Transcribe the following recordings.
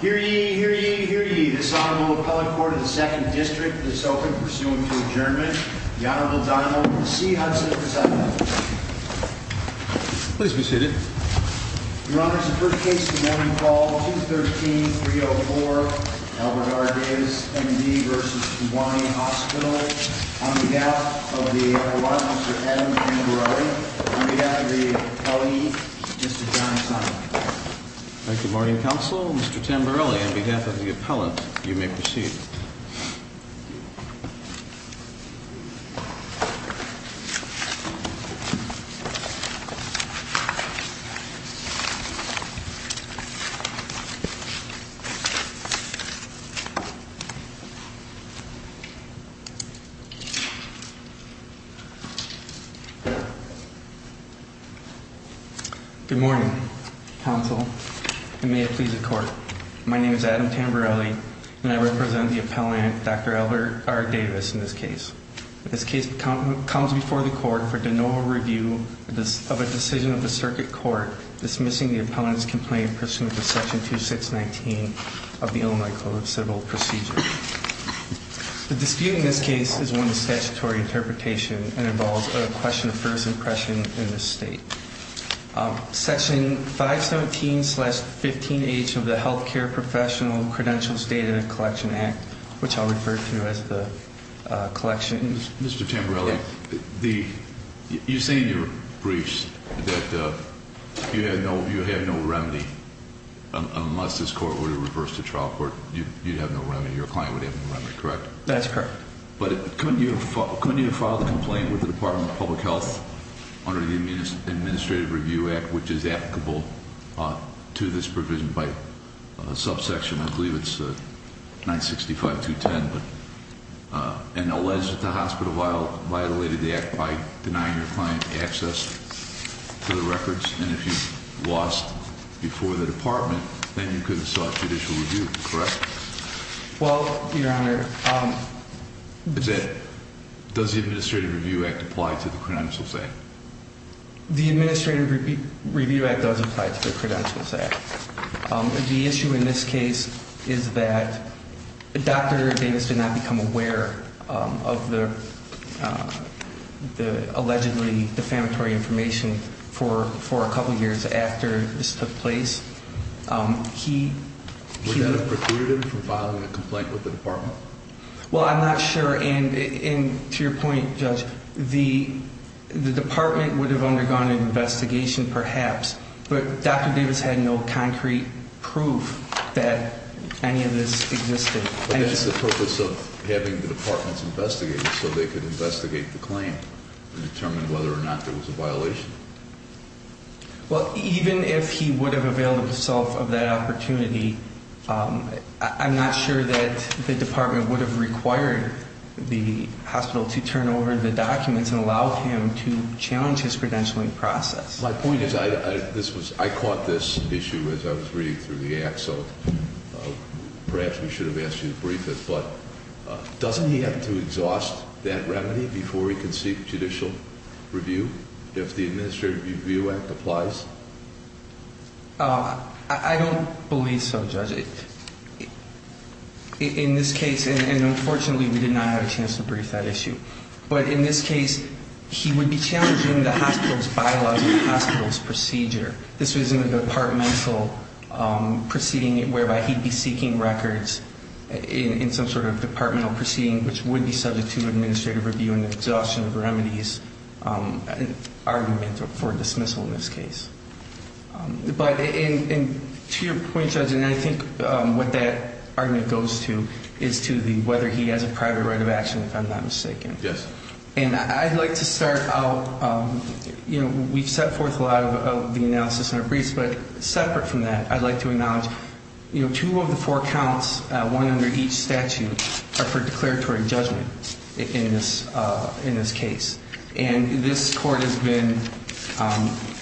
Hear ye, hear ye, hear ye, this Honorable Appellate Court of the 2nd District is open pursuant to adjournment. The Honorable Donald C. Hudson presiding over the hearing. Please be seated. Your Honor, it's the first case of the morning call, 213-304, Albert R. Davis, M&D v. Kewanee Hospital. On behalf of the lawyer, Mr. Adam Angiorelli, on behalf of the appellee, Mr. John Sonic. Thank you, morning counsel. Mr. Tamberelli, on behalf of the appellant, you may proceed. Good morning counsel, and may it please the court. My name is Adam Tamberelli, and I represent the appellant, Dr. Albert R. Davis in this case. This case comes before the court for de novo review of a decision of the circuit court dismissing the appellant's complaint pursuant to section 2619 of the Illinois Code of Civil Procedure. The dispute in this case is one of statutory interpretation and involves a question of first impression in this state. Section 517 slash 15H of the Healthcare Professional Credentials Data Collection Act, which I'll refer to as the collection. Mr. Tamberelli, you say in your briefs that you have no remedy. Unless this court were to reverse the trial court, you'd have no remedy, your client would have no remedy, correct? That's correct. But couldn't you have filed a complaint with the Department of Public Health under the Administrative Review Act, which is applicable to this provision by a subsection, I believe it's 965-210. But, and alleged that the hospital violated the act by denying your client access to the records. And if you lost before the department, then you could have sought judicial review, correct? Well, your honor. Does the Administrative Review Act apply to the Credentials Act? The Administrative Review Act does apply to the Credentials Act. The issue in this case is that Dr. Davis did not become aware of the allegedly defamatory information for a couple years after this took place. He- Would that have precluded him from filing a complaint with the department? Well, I'm not sure, and to your point, Judge, the department would have undergone an investigation, perhaps. But Dr. Davis had no concrete proof that any of this existed. But that's the purpose of having the departments investigate it, so they could investigate the claim and determine whether or not there was a violation. Well, even if he would have availed himself of that opportunity, I'm not sure that the department would have required the hospital to turn over the documents and allow him to challenge his credentialing process. My point is, I caught this issue as I was reading through the act, so perhaps we should have asked you to brief it, but doesn't he have to exhaust that remedy before he can seek judicial review, if the Administrative Review Act applies? I don't believe so, Judge. In this case, and unfortunately, we did not have a chance to brief that issue. But in this case, he would be challenging the hospital's bylaws and the hospital's procedure. This was in a departmental proceeding whereby he'd be seeking records in some sort of departmental proceeding, which would be subject to administrative review and exhaustion of remedies, an argument for dismissal in this case. But to your point, Judge, and I think what that argument goes to is to the whether he has a private right of action, if I'm not mistaken. Yes. And I'd like to start out, we've set forth a lot of the analysis in our briefs, but separate from that, I'd like to acknowledge two of the four counts, one under each statute, are for declaratory judgment in this case. And this court has been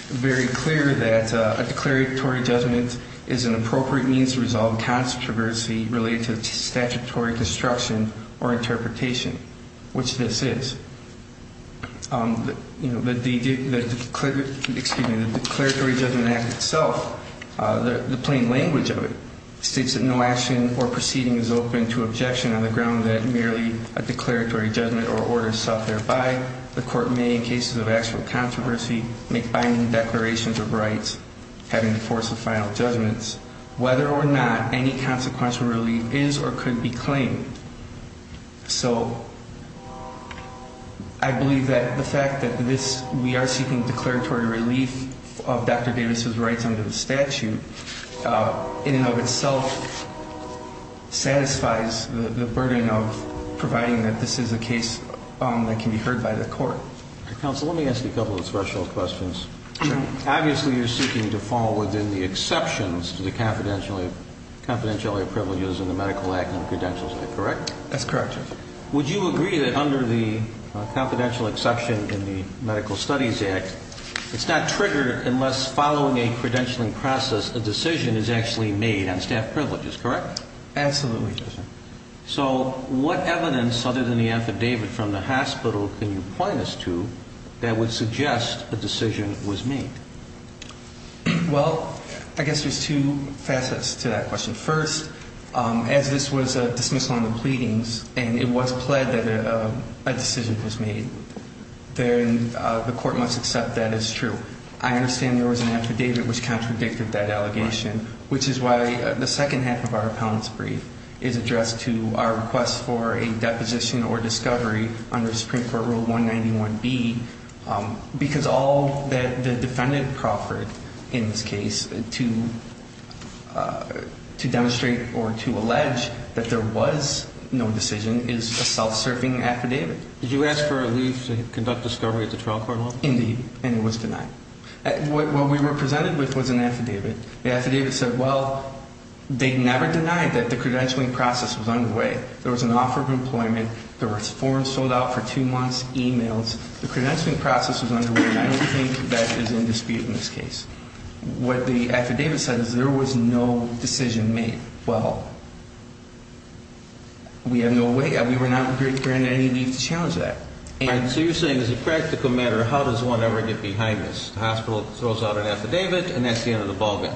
very clear that a declaratory judgment is an appropriate means to resolve controversy related to statutory destruction or interpretation, which this is. The declaratory judgment act itself, the plain language of it, states that no action or proceeding is open to objection on the ground that merely a declaratory judgment or order is sought thereby. The court may, in cases of actual controversy, make binding declarations of rights, having the force of final judgments, whether or not any consequential relief is or could be claimed. So, I believe that the fact that we are seeking declaratory relief of Dr. Davis's rights under the statute, in and of itself, satisfies the burden of providing that this is a case that can be heard by the court. Counsel, let me ask you a couple of special questions. Sure. Obviously, you're seeking to fall within the exceptions to the confidentiality of privileges in the medical act and that's correct? That's correct, Judge. Would you agree that under the confidential exception in the medical studies act, it's not triggered unless following a credentialing process, a decision is actually made on staff privileges, correct? Absolutely, Judge. So, what evidence other than the affidavit from the hospital can you point us to that would suggest a decision was made? Well, I guess there's two facets to that question. First, as this was a dismissal on the pleadings and it was pled that a decision was made, then the court must accept that as true. I understand there was an affidavit which contradicted that allegation, which is why the second half of our appellant's brief is addressed to our request for a deposition or discovery under Supreme Court Rule 191B because all that the defendant proffered in this case to demonstrate or to allege that there was no decision is a self-serving affidavit. Did you ask for a leave to conduct discovery at the trial court level? Indeed, and it was denied. What we were presented with was an affidavit. The affidavit said, well, they never denied that the credentialing process was underway. There was an offer of employment. There were forms sold out for two months, e-mails. The credentialing process was underway, and I don't think that is in dispute in this case. What the affidavit said is there was no decision made. Well, we have no way. We were not granted any leave to challenge that. So you're saying as a practical matter, how does one ever get behind this? The hospital throws out an affidavit, and that's the end of the ballgame.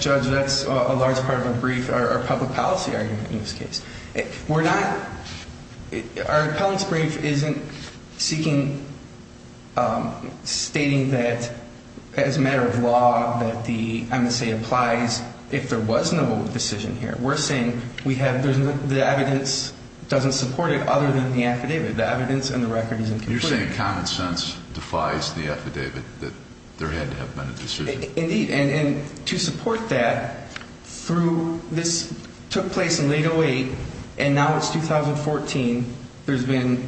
Judge, that's a large part of our brief, our public policy argument in this case. Our appellant's brief isn't stating that as a matter of law that the MSA applies if there was no decision here. We're saying the evidence doesn't support it other than the affidavit. The evidence in the record isn't complete. You're saying common sense defies the affidavit that there had to have been a decision. Indeed. And to support that, through this took place in late 08, and now it's 2014, there's been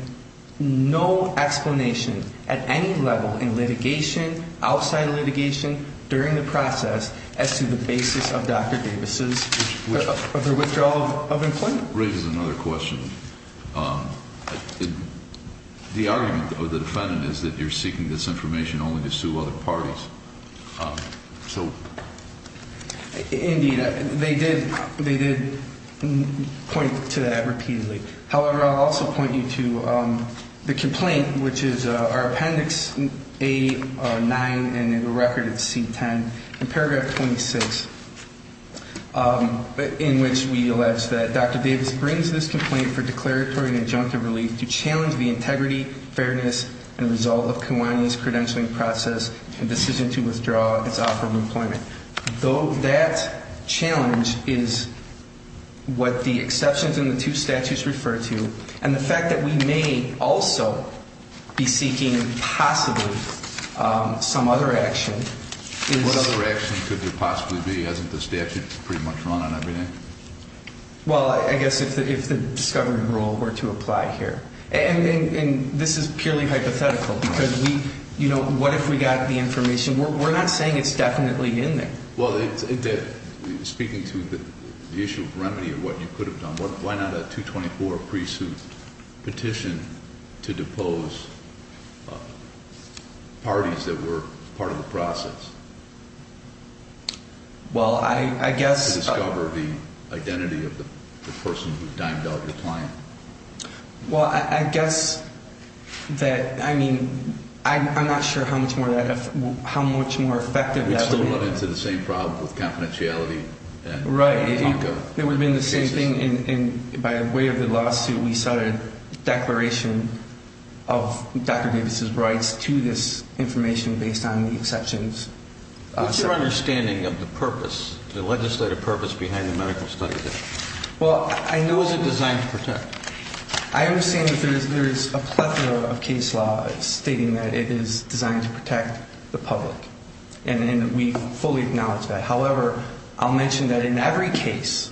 no explanation at any level in litigation, outside of litigation, during the process as to the basis of Dr. Davis' withdrawal of employment. Which raises another question. The argument of the defendant is that you're seeking this information only to sue other parties. Indeed, they did point to that repeatedly. However, I'll also point you to the complaint, which is our appendix A-9 in the record of C-10, in paragraph 26, in which we allege that Dr. Davis brings this complaint for declaratory and injunctive relief to challenge the integrity, fairness, and result of Kiwani's credentialing process and decision to withdraw its offer of employment. Though that challenge is what the exceptions in the two statutes refer to, and the fact that we may also be seeking possibly some other action. What other action could there possibly be? Hasn't the statute pretty much run on everything? Well, I guess if the discovery rule were to apply here. And this is purely hypothetical, because what if we got the information? We're not saying it's definitely in there. Well, speaking to the issue of remedy of what you could have done, why not a 224 pre-suit petition to depose parties that were part of the process? Well, I guess. To discover the identity of the person who dimed out the client. Well, I guess that, I mean, I'm not sure how much more effective that would be. We'd still run into the same problem with confidentiality. Right. There would have been the same thing, and by way of the lawsuit, we started a declaration of Dr. Davis' rights to this information based on the exceptions. What's your understanding of the purpose, the legislative purpose behind the medical study? Well, I know. What was it designed to protect? I understand that there is a plethora of case laws stating that it is designed to protect the public, and we fully acknowledge that. However, I'll mention that in every case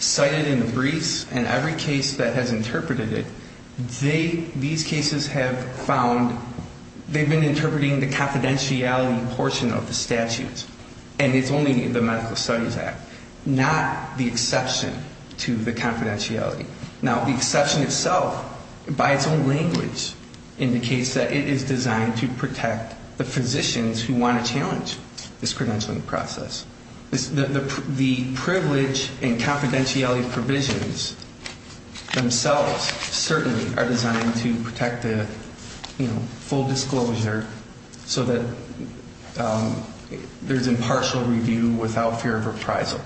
cited in the briefs and every case that has interpreted it, these cases have found they've been interpreting the confidentiality portion of the statutes, and it's only the Medical Studies Act, not the exception to the confidentiality. Now, the exception itself, by its own language, indicates that it is designed to protect the physicians who want to challenge this credentialing process. The privilege and confidentiality provisions themselves certainly are designed to protect the, you know, full disclosure so that there's impartial review without fear of reprisal.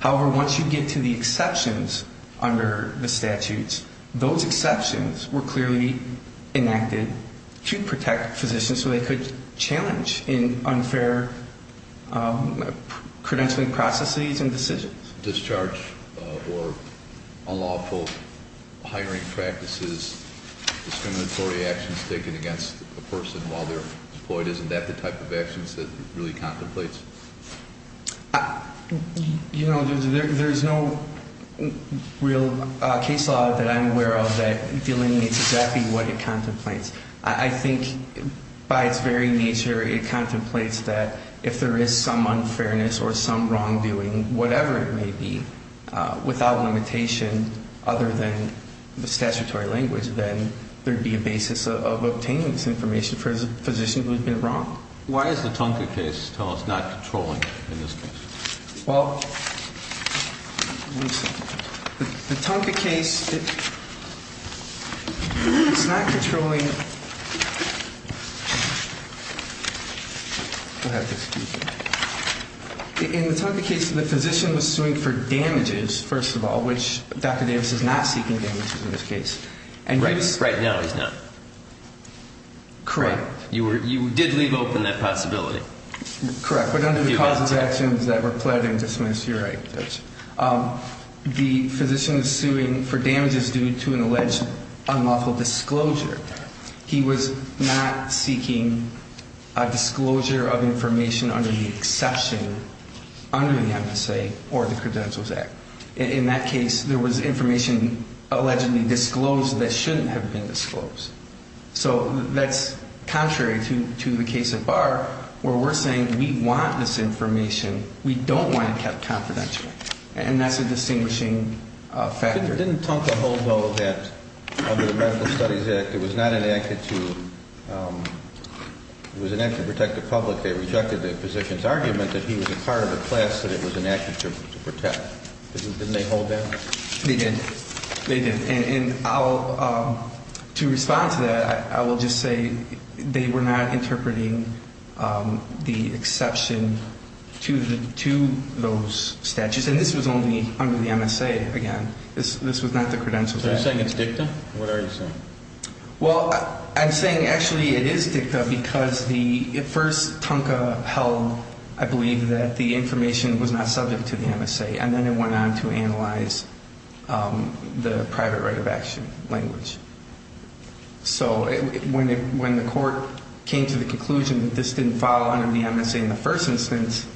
However, once you get to the exceptions under the statutes, those exceptions were clearly enacted to protect physicians so they could challenge in unfair credentialing processes and decisions. Discharge or unlawful hiring practices, discriminatory actions taken against a person while they're employed, isn't that the type of actions that really contemplates? You know, there's no real case law that I'm aware of that delineates exactly what it contemplates. I think by its very nature, it contemplates that if there is some unfairness or some wrongdoing, whatever it may be, without limitation other than the statutory language, then there'd be a basis of obtaining this information for a physician who's been wronged. Why is the Tunka case, tell us, not controlling in this case? Well, the Tunka case, it's not controlling. In the Tunka case, the physician was suing for damages, first of all, which Dr. Davis is not seeking damages in this case. Right now, he's not. Correct. You did leave open that possibility. Correct. But under the causes of actions that were pled and dismissed, you're right, Judge. The physician is suing for damages due to an alleged unlawful disclosure. He was not seeking a disclosure of information under the exception under the MSA or the Credentials Act. In that case, there was information allegedly disclosed that shouldn't have been disclosed. So that's contrary to the case at bar where we're saying we want this information. We don't want it kept confidential. And that's a distinguishing factor. Didn't Tunka hold, though, that under the Medical Studies Act, it was not enacted to protect the public. They rejected the physician's argument that he was a part of a class that it was enacted to protect. Didn't they hold that? They did. They did. And to respond to that, I will just say they were not interpreting the exception to those statutes. And this was only under the MSA, again. This was not the Credentials Act. So you're saying it's dicta? What are you saying? Well, I'm saying actually it is dicta because first Tunka held, I believe, that the information was not subject to the MSA. And then it went on to analyze the private right of action language. So when the court came to the conclusion that this didn't fall under the MSA in the first instance,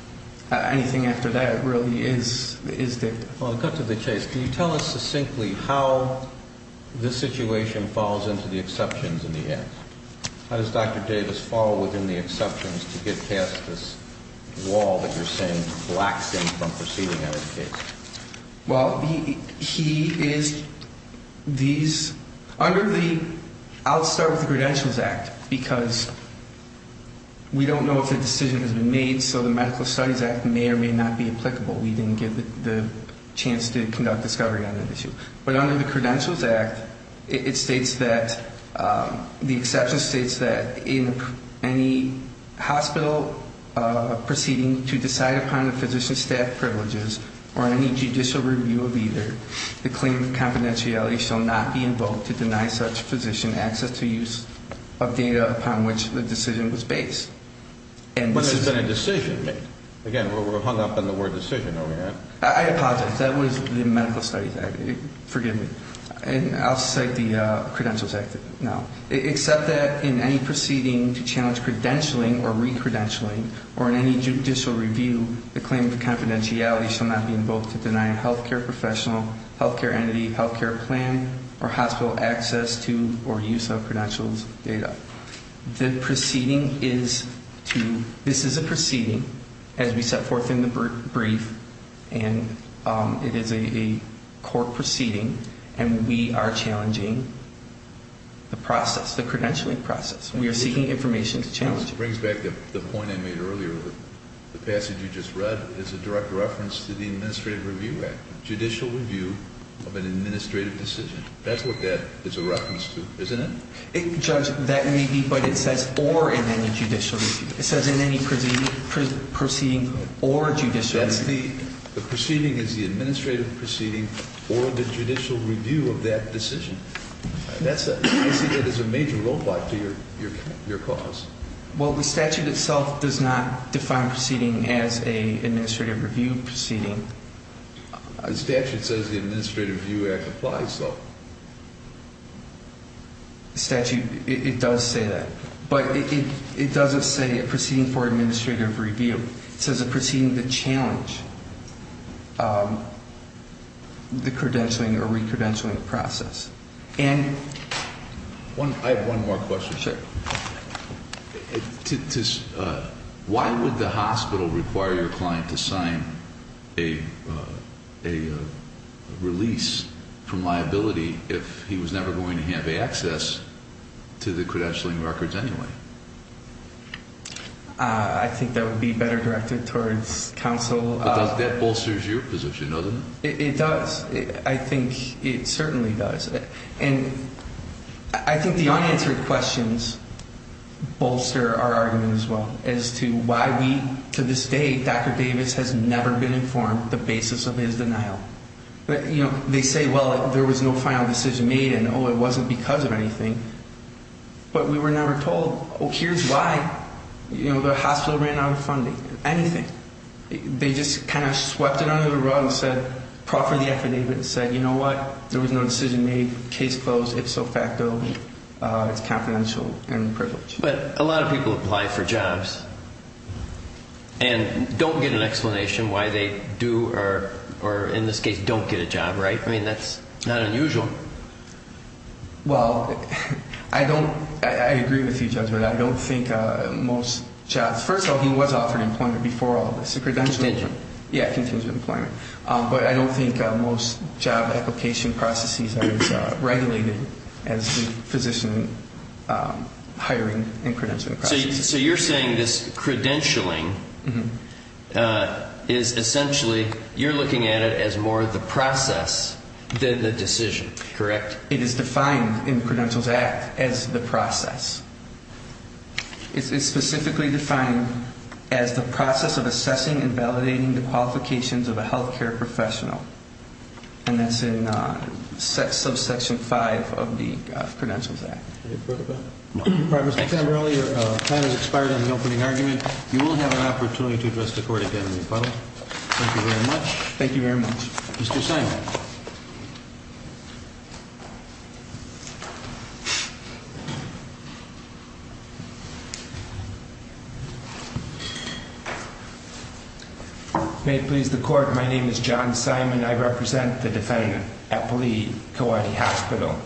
anything after that really is dicta. Well, to cut to the chase, can you tell us succinctly how this situation falls into the exceptions in the act? How does Dr. Davis fall within the exceptions to get past this wall that you're saying blacks in from proceeding out of the case? Well, he is these under the I'll start with the Credentials Act because we don't know if a decision has been made, so the Medical Studies Act may or may not be applicable. We didn't get the chance to conduct discovery on that issue. But under the Credentials Act, it states that the exception states that in any hospital proceeding to decide upon the physician's staff privileges or any judicial review of either, the claim of confidentiality shall not be invoked to deny such physician access to use of data upon which the decision was based. But there's been a decision made. Again, we're hung up on the word decision over here. I apologize. That was the Medical Studies Act. Forgive me. And I'll cite the Credentials Act now. Except that in any proceeding to challenge credentialing or recredentialing or in any judicial review, the claim of confidentiality shall not be invoked to deny a healthcare professional, healthcare entity, healthcare plan, or hospital access to or use of credentials data. The proceeding is to – this is a proceeding as we set forth in the brief, and it is a court proceeding, and we are challenging the process, the credentialing process. We are seeking information to challenge it. This brings back the point I made earlier. The passage you just read is a direct reference to the Administrative Review Act, judicial review of an administrative decision. That's what that is a reference to, isn't it? Judge, that may be, but it says or in any judicial review. It says in any proceeding or judicial review. That's the – the proceeding is the administrative proceeding or the judicial review of that decision. That's a – I see that as a major roadblock to your cause. Well, the statute itself does not define proceeding as an administrative review proceeding. The statute says the Administrative Review Act applies, though. The statute, it does say that. But it doesn't say a proceeding for administrative review. It says a proceeding to challenge the credentialing or re-credentialing process. I have one more question. Sure. Why would the hospital require your client to sign a release from liability if he was never going to have access to the credentialing records anyway? I think that would be better directed towards counsel. But that bolsters your position, doesn't it? It does. I think it certainly does. And I think the unanswered questions bolster our argument as well as to why we – to this day, Dr. Davis has never been informed the basis of his denial. You know, they say, well, there was no final decision made and, oh, it wasn't because of anything. But we were never told, oh, here's why, you know, the hospital ran out of funding, anything. They just kind of swept it under the rug and said – proffered the affidavit and said, you know what, there was no decision made, case closed, ipso facto, it's confidential and privileged. But a lot of people apply for jobs and don't get an explanation why they do or, in this case, don't get a job, right? I mean, that's not unusual. Well, I don't – I agree with you, Judge, but I don't think most jobs – first of all, he was offered employment before all of this, a credentialing. Contingent. Yeah, contingent employment. But I don't think most job application processes are as regulated as the physician hiring and credentialing process. So you're saying this credentialing is essentially – you're looking at it as more the process than the decision, correct? It is defined in the Credentials Act as the process. It's specifically defined as the process of assessing and validating the qualifications of a health care professional. And that's in subsection 5 of the Credentials Act. Thank you. Your time has expired on the opening argument. You will have an opportunity to address the Court again in the final. Thank you very much. Thank you very much. Mr. Simon. May it please the Court, my name is John Simon. I represent the defendant, Eppley, Kewanee Hospital.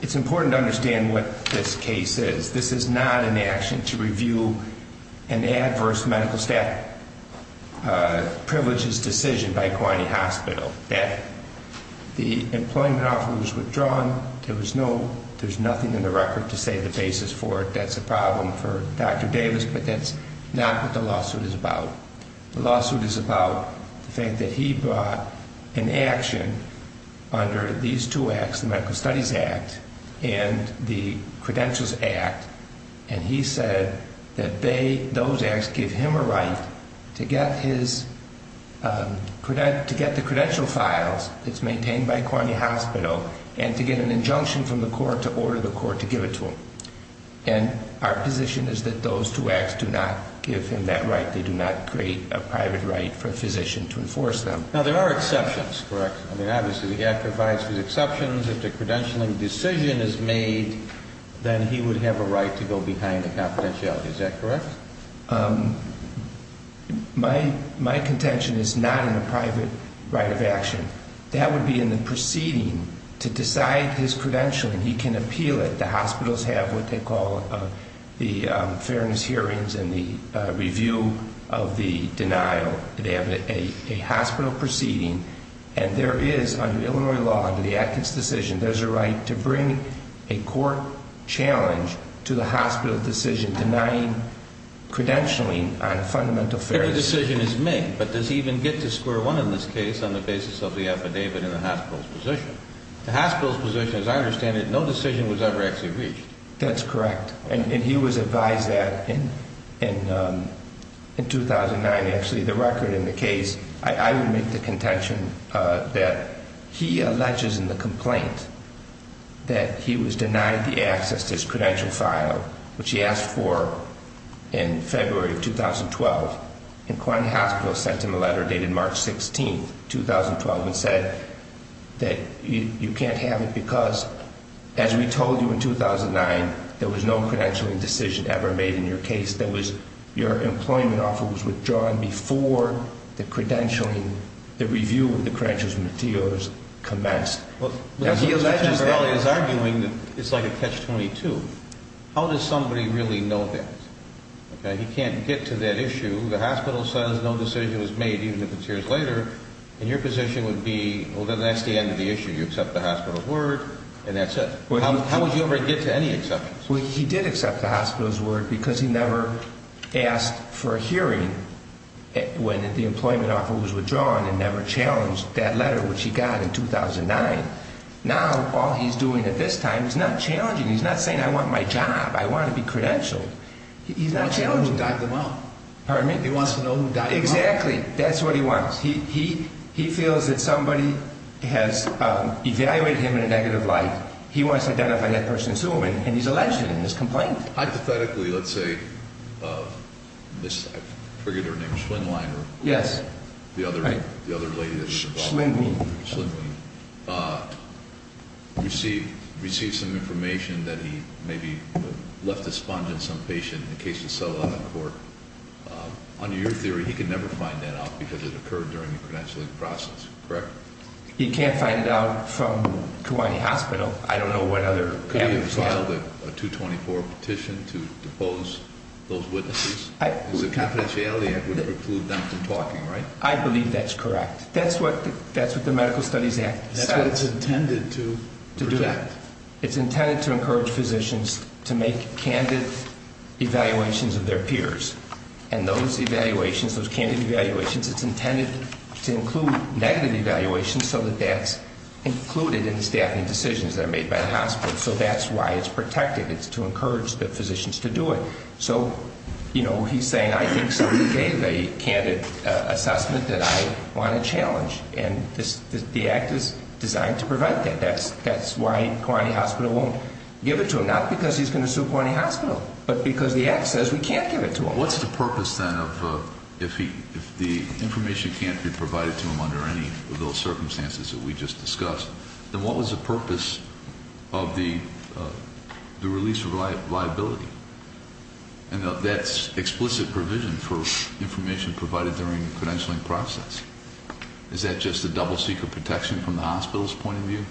It's important to understand what this case is. This is not an action to review an adverse medical staff privileges decision by Kewanee Hospital. The employment offer was withdrawn. There's nothing in the record to say the basis for it. That's a problem for Dr. Davis, but that's not what the lawsuit is about. The lawsuit is about the fact that he brought an action under these two acts, the Medical Studies Act and the Credentials Act. And he said that those acts give him a right to get the credential files that's maintained by Kewanee Hospital and to get an injunction from the Court to order the Court to give it to him. And our position is that those two acts do not give him that right. They do not create a private right for a physician to enforce them. Now, there are exceptions, correct? I mean, obviously, the act provides for the exceptions. If the credentialing decision is made, then he would have a right to go behind the confidentiality. Is that correct? My contention is not in a private right of action. That would be in the proceeding to decide his credentialing. He can appeal it. The hospitals have what they call the fairness hearings and the review of the denial. They have a hospital proceeding, and there is, under Illinois law, under the Adkins decision, there's a right to bring a court challenge to the hospital decision denying credentialing on fundamental fairness. Every decision is made, but does he even get to square one in this case on the basis of the affidavit and the hospital's position? The hospital's position, as I understand it, no decision was ever actually reached. That's correct. And he was advised that in 2009, actually, the record in the case, I would make the contention that he alleges in the complaint that he was denied the access to his credential file, which he asked for in February of 2012. And Quine Hospital sent him a letter dated March 16, 2012, and said that you can't have it because, as we told you in 2009, there was no credentialing decision ever made in your case. Your employment offer was withdrawn before the credentialing, the review of the credential's materials commenced. He alleges that. He's arguing that it's like a catch-22. How does somebody really know that? He can't get to that issue. The hospital says no decision was made, even if it's years later, and your position would be, well, then that's the end of the issue. You accept the hospital's word, and that's it. How would you ever get to any exceptions? Well, he did accept the hospital's word because he never asked for a hearing when the employment offer was withdrawn and never challenged that letter, which he got in 2009. Now, all he's doing at this time, he's not challenging. He's not saying, I want my job. I want to be credentialed. He's not challenging. He wants to know who dialed him up. Pardon me? He wants to know who dialed him up. Exactly. That's what he wants. He feels that somebody has evaluated him in a negative light. He wants to identify that person as human, and he's alleged in this complaint. Hypothetically, let's say I've triggered her name, Schwindliner. Yes. The other lady. Schwindling. Schwindling. Received some information that he maybe left a sponge in some patient in case he's settled on the court. Under your theory, he could never find that out because it occurred during the credentialing process, correct? He can't find it out from Kewaunee Hospital. I don't know what other evidence. Could he have filed a 224 petition to depose those witnesses? With the confidentiality, it would preclude them from talking, right? I believe that's correct. That's what the Medical Studies Act says. That's what it's intended to do. It's intended to encourage physicians to make candid evaluations of their peers. And those evaluations, those candid evaluations, it's intended to include negative evaluations so that that's included in the staffing decisions that are made by the hospital. So that's why it's protected. It's to encourage the physicians to do it. So, you know, he's saying I think somebody gave a candid assessment that I want to challenge. And the act is designed to prevent that. That's why Kewaunee Hospital won't give it to him. Not because he's going to sue Kewaunee Hospital, but because the act says we can't give it to him. What's the purpose, then, of if the information can't be provided to him under any of those circumstances that we just discussed, then what was the purpose of the release of liability? And that's explicit provision for information provided during the credentialing process. Is that just a double-seeker protection from the hospital's point of view?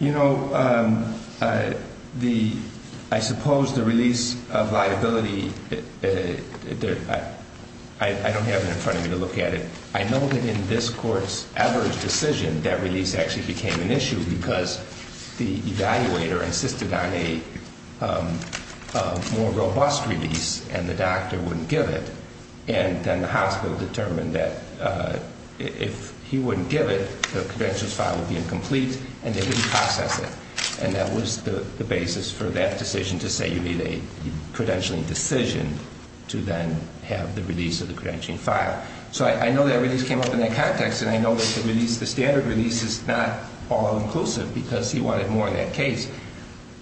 You know, I suppose the release of liability, I don't have it in front of me to look at it. I know that in this court's average decision, that release actually became an issue because the evaluator insisted on a more robust release and the doctor wouldn't give it. And then the hospital determined that if he wouldn't give it, the credentials file would be incomplete, and they didn't process it. And that was the basis for that decision to say you need a credentialing decision to then have the release of the credentialing file. So I know that release came up in that context, and I know that the standard release is not all-inclusive because he wanted more in that case.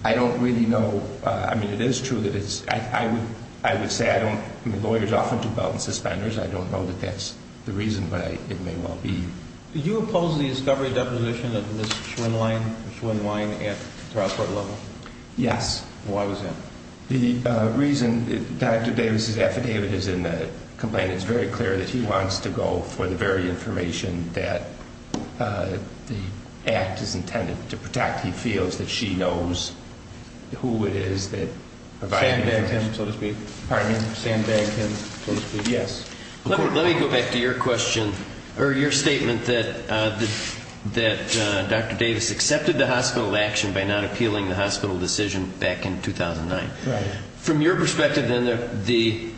I don't really know. I mean, it is true that it's – I would say I don't – I mean, lawyers often do belt and suspenders. I don't know that that's the reason, but it may well be. Did you oppose the discovery deposition of Ms. Schwinnwein at trial court level? Yes. Why was that? The reason – Dr. Davis's affidavit is in the complaint. It's very clear that he wants to go for the very information that the act is intended to protect. He feels that she knows who it is that – Sandbagged him, so to speak. Pardon me? Sandbagged him, so to speak. Yes. Let me go back to your question or your statement that Dr. Davis accepted the hospital action by not appealing the hospital decision back in 2009. Right. From your perspective, then, the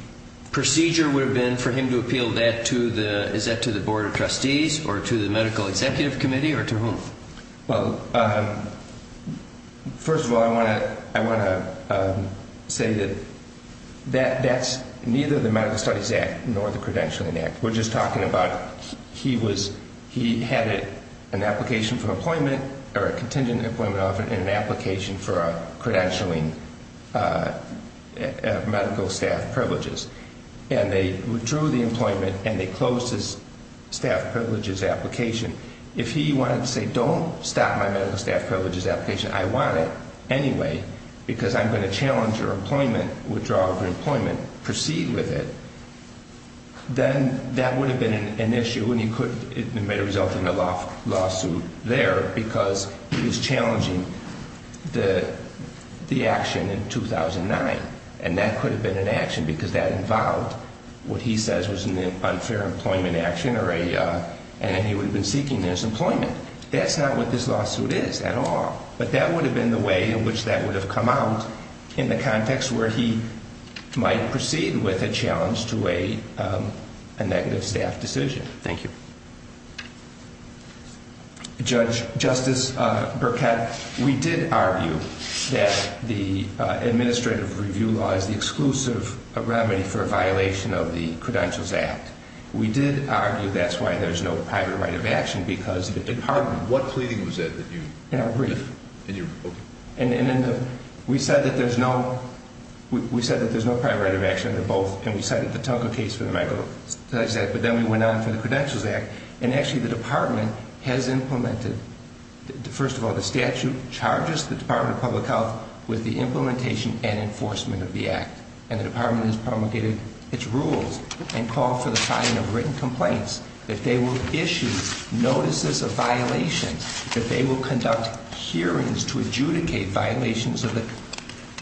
procedure would have been for him to appeal that to the – is that to the Board of Trustees or to the Medical Executive Committee or to whom? Well, first of all, I want to say that that's neither the Medical Studies Act nor the Credentialing Act. We're just talking about he was – he had an application for employment or a contingent employment offer and an application for a credentialing medical staff privileges, and they withdrew the employment and they closed his staff privileges application. If he wanted to say, don't stop my medical staff privileges application, I want it anyway because I'm going to challenge your employment, withdraw your employment, proceed with it, then that would have been an issue and he could – it may have resulted in a lawsuit there because he was challenging the action in 2009, and that could have been an action because that involved what he says was an unfair employment action or a – and he would have been seeking his employment. That's not what this lawsuit is at all, but that would have been the way in which that would have come out in the context where he might proceed with a challenge to a negative staff decision. Thank you. Judge – Justice Burkett, we did argue that the administrative review law is the exclusive remedy for a violation of the Credentials Act. We did argue that's why there's no private right of action because the department – What pleading was that that you – In our brief. In your – okay. And then we said that there's no – we said that there's no private right of action, they're both, and we cited the Tuncker case for the medical – but then we went on for the Credentials Act, and actually the department has implemented – first of all, the statute charges the Department of Public Health with the implementation and enforcement of the act, and the department has promulgated its rules and called for the filing of written complaints, that they will issue notices of violation, that they will conduct hearings to adjudicate violations of the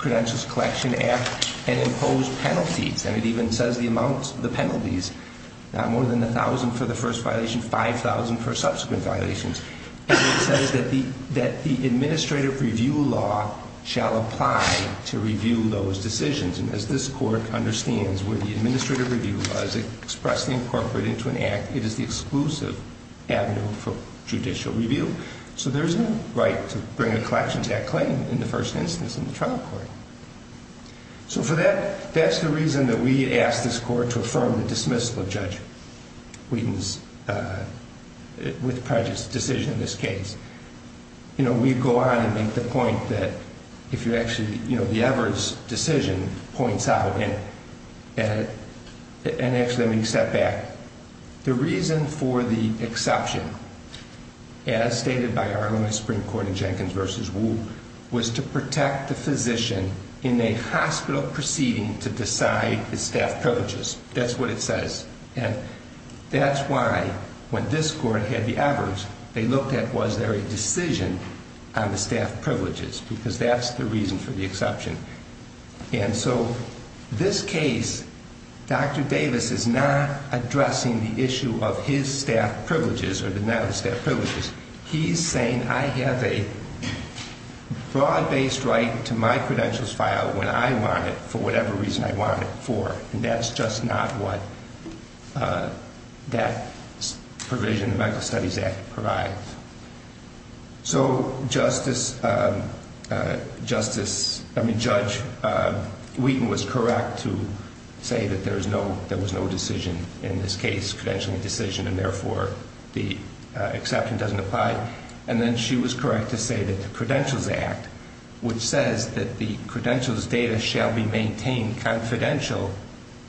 Credentials Collection Act and impose penalties, and it even says the amount – the penalties, not more than 1,000 for the first violation, 5,000 for subsequent violations, and it says that the administrative review law shall apply to review those decisions, and as this court understands, where the administrative review law is expressly incorporated into an act, it is the exclusive avenue for judicial review. So there's no right to bring a collections act claim in the first instance in the trial court. So for that, that's the reason that we asked this court to affirm the dismissal of Judge Wheaton's – with prejudice – decision in this case. You know, we go on and make the point that if you actually – you know, the Evers decision points out, and actually, let me step back. The reason for the exception, as stated by our own Supreme Court in Jenkins v. Wu, was to protect the physician in a hospital proceeding to decide the staff privileges. That's what it says, and that's why when this court had the Evers, they looked at was there a decision on the staff privileges, because that's the reason for the exception. And so this case, Dr. Davis is not addressing the issue of his staff privileges or the net of staff privileges. He's saying I have a broad-based right to my credentials file when I want it for whatever reason I want it for, and that's just not what that provision in the Mental Studies Act provides. So Justice – I mean, Judge Wheaton was correct to say that there was no decision in this case, credentialing decision, and therefore, the exception doesn't apply. And then she was correct to say that the Credentials Act, which says that the credentials data shall be maintained confidential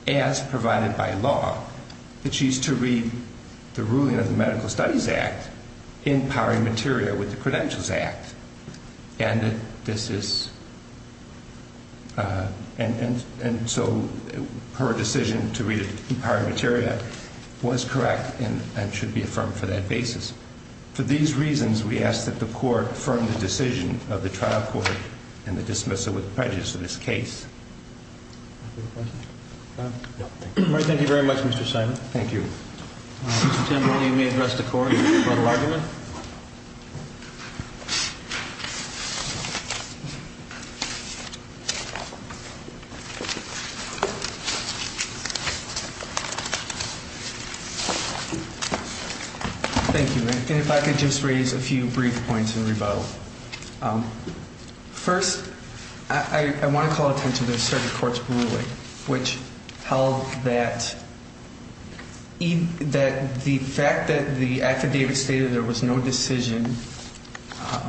as provided by law, that she's to read the ruling of the Medical Studies Act in powering materia with the Credentials Act. And this is – and so her decision to read it in powering materia was correct and should be affirmed for that basis. For these reasons, we ask that the Court affirm the decision of the trial court in the dismissal with prejudice of this case. Thank you very much, Mr. Simon. Mr. Timberley, you may address the Court in your final argument. Thank you, and if I could just raise a few brief points in rebuttal. First, I want to call attention to the circuit court's ruling, which held that the fact that the affidavit stated there was no decision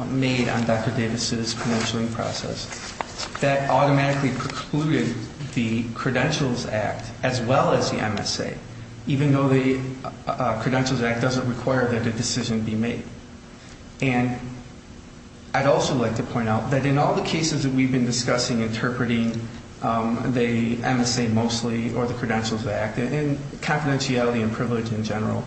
made on Dr. Davis' credentialing process, that automatically precluded the Credentials Act as well as the MSA, even though the Credentials Act doesn't require that a decision be made. And I'd also like to point out that in all the cases that we've been discussing interpreting the MSA mostly or the Credentials Act and confidentiality and privilege in general,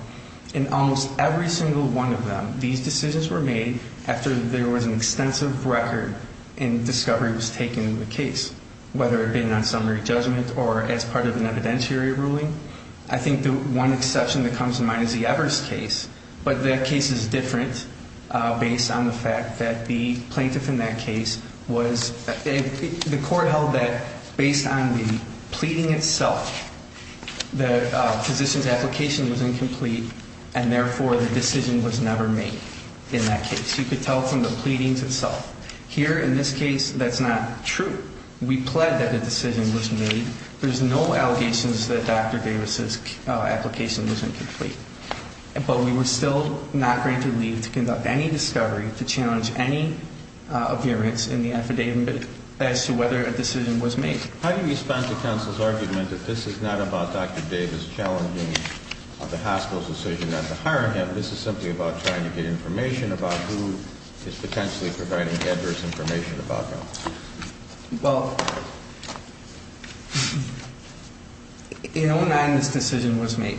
in almost every single one of them, these decisions were made after there was an extensive record and discovery was taken in the case, whether it had been on summary judgment or as part of an evidentiary ruling. I think the one exception that comes to mind is the Evers case, but that case is different based on the fact that the plaintiff in that case was – the Court held that based on the pleading itself, the physician's application was incomplete, and therefore the decision was never made in that case. You could tell from the pleadings itself. Here in this case, that's not true. We pled that the decision was made. There's no allegations that Dr. Davis' application was incomplete, but we were still not going to leave to conduct any discovery to challenge any appearance in the affidavit as to whether a decision was made. How do you respond to counsel's argument that this is not about Dr. Davis challenging the hospital's decision not to hire him, this is simply about trying to get information about who is potentially providing adverse information about him? Well, in 09, this decision was made,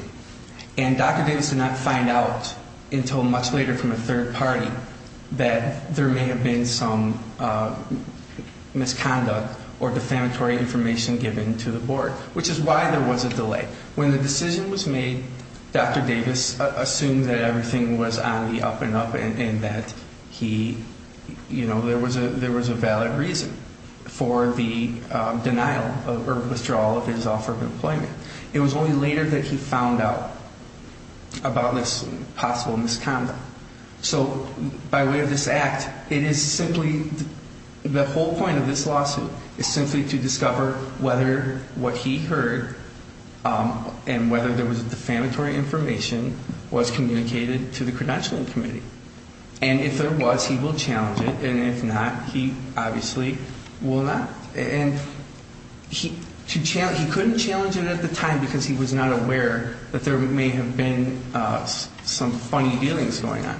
and Dr. Davis did not find out until much later from a third party that there may have been some misconduct or defamatory information given to the Board, which is why there was a delay. When the decision was made, Dr. Davis assumed that everything was on the up and up and that he, you know, there was a valid reason for the denial or withdrawal of his offer of employment. It was only later that he found out about this possible misconduct. So by way of this act, it is simply, the whole point of this lawsuit is simply to discover whether what he heard and whether there was defamatory information was communicated to the Credentialing Committee. And if there was, he will challenge it, and if not, he obviously will not. And he couldn't challenge it at the time because he was not aware that there may have been some funny dealings going on.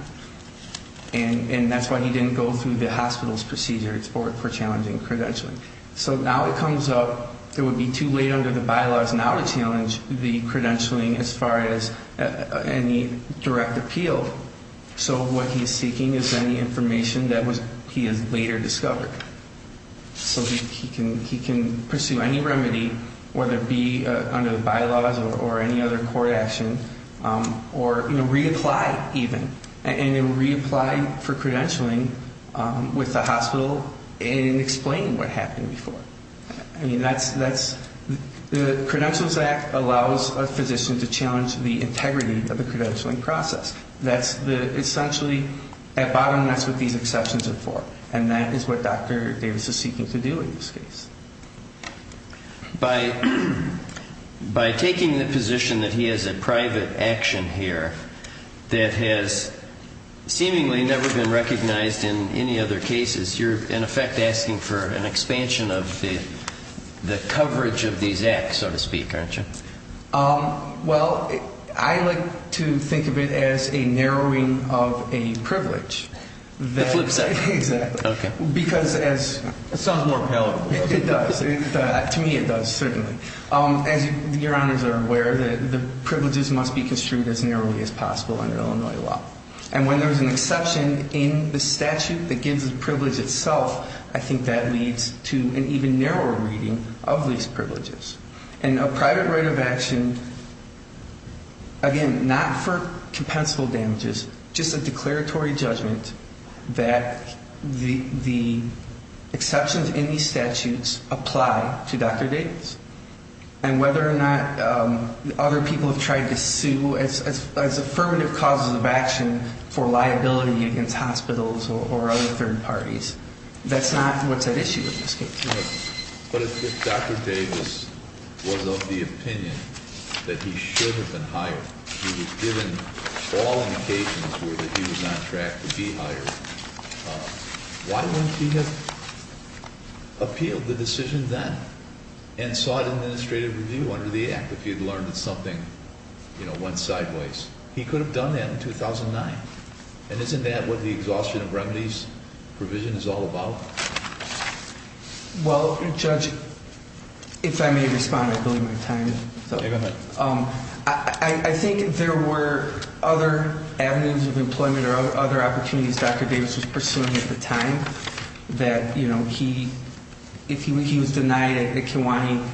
And that's why he didn't go through the hospital's procedures for challenging credentialing. So now it comes up, it would be too late under the bylaws now to challenge the credentialing as far as any direct appeal. So what he's seeking is any information that he has later discovered. So he can pursue any remedy, whether it be under the bylaws or any other court action, or, you know, reapply even. And then reapply for credentialing with the hospital and explain what happened before. I mean, that's, the Credentials Act allows a physician to challenge the integrity of the credentialing process. That's essentially, at bottom, that's what these exceptions are for. And that is what Dr. Davis is seeking to do in this case. By taking the position that he has a private action here that has seemingly never been recognized in any other cases, you're, in effect, asking for an expansion of the coverage of these acts, so to speak, aren't you? Well, I like to think of it as a narrowing of a privilege. The flip side. Exactly. Okay. It sounds more palatable. It does. To me, it does, certainly. As your honors are aware, the privileges must be construed as narrowly as possible under Illinois law. And when there's an exception in the statute that gives the privilege itself, I think that leads to an even narrower reading of these privileges. And a private right of action, again, not for compensable damages, just a declaratory judgment that the exceptions in these statutes apply to Dr. Davis. And whether or not other people have tried to sue as affirmative causes of action for liability against hospitals or other third parties, that's not what's at issue with this case. But if Dr. Davis was of the opinion that he should have been hired, he was given all indications that he was on track to be hired, why wouldn't he have appealed the decision then and sought administrative review under the Act if he had learned that something went sideways? He could have done that in 2009. And isn't that what the exhaustion of remedies provision is all about? Well, Judge, if I may respond, I believe we have time. Go ahead. I think there were other avenues of employment or other opportunities Dr. Davis was pursuing at the time that if he was denied at Kiwani,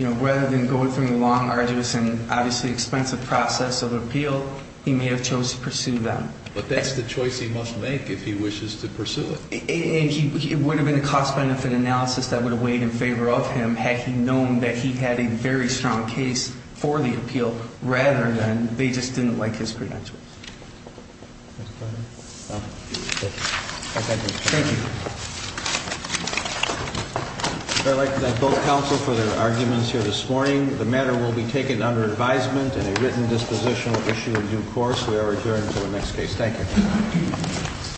rather than go through the long, arduous, and obviously expensive process of appeal, he may have chose to pursue them. But that's the choice he must make if he wishes to pursue it. It would have been a cost-benefit analysis that would have weighed in favor of him had he known that he had a very strong case for the appeal, rather than they just didn't like his credentials. Thank you. I'd like to thank both counsel for their arguments here this morning. The matter will be taken under advisement and a written disposition will issue a due course. We are returning to the next case. Thank you.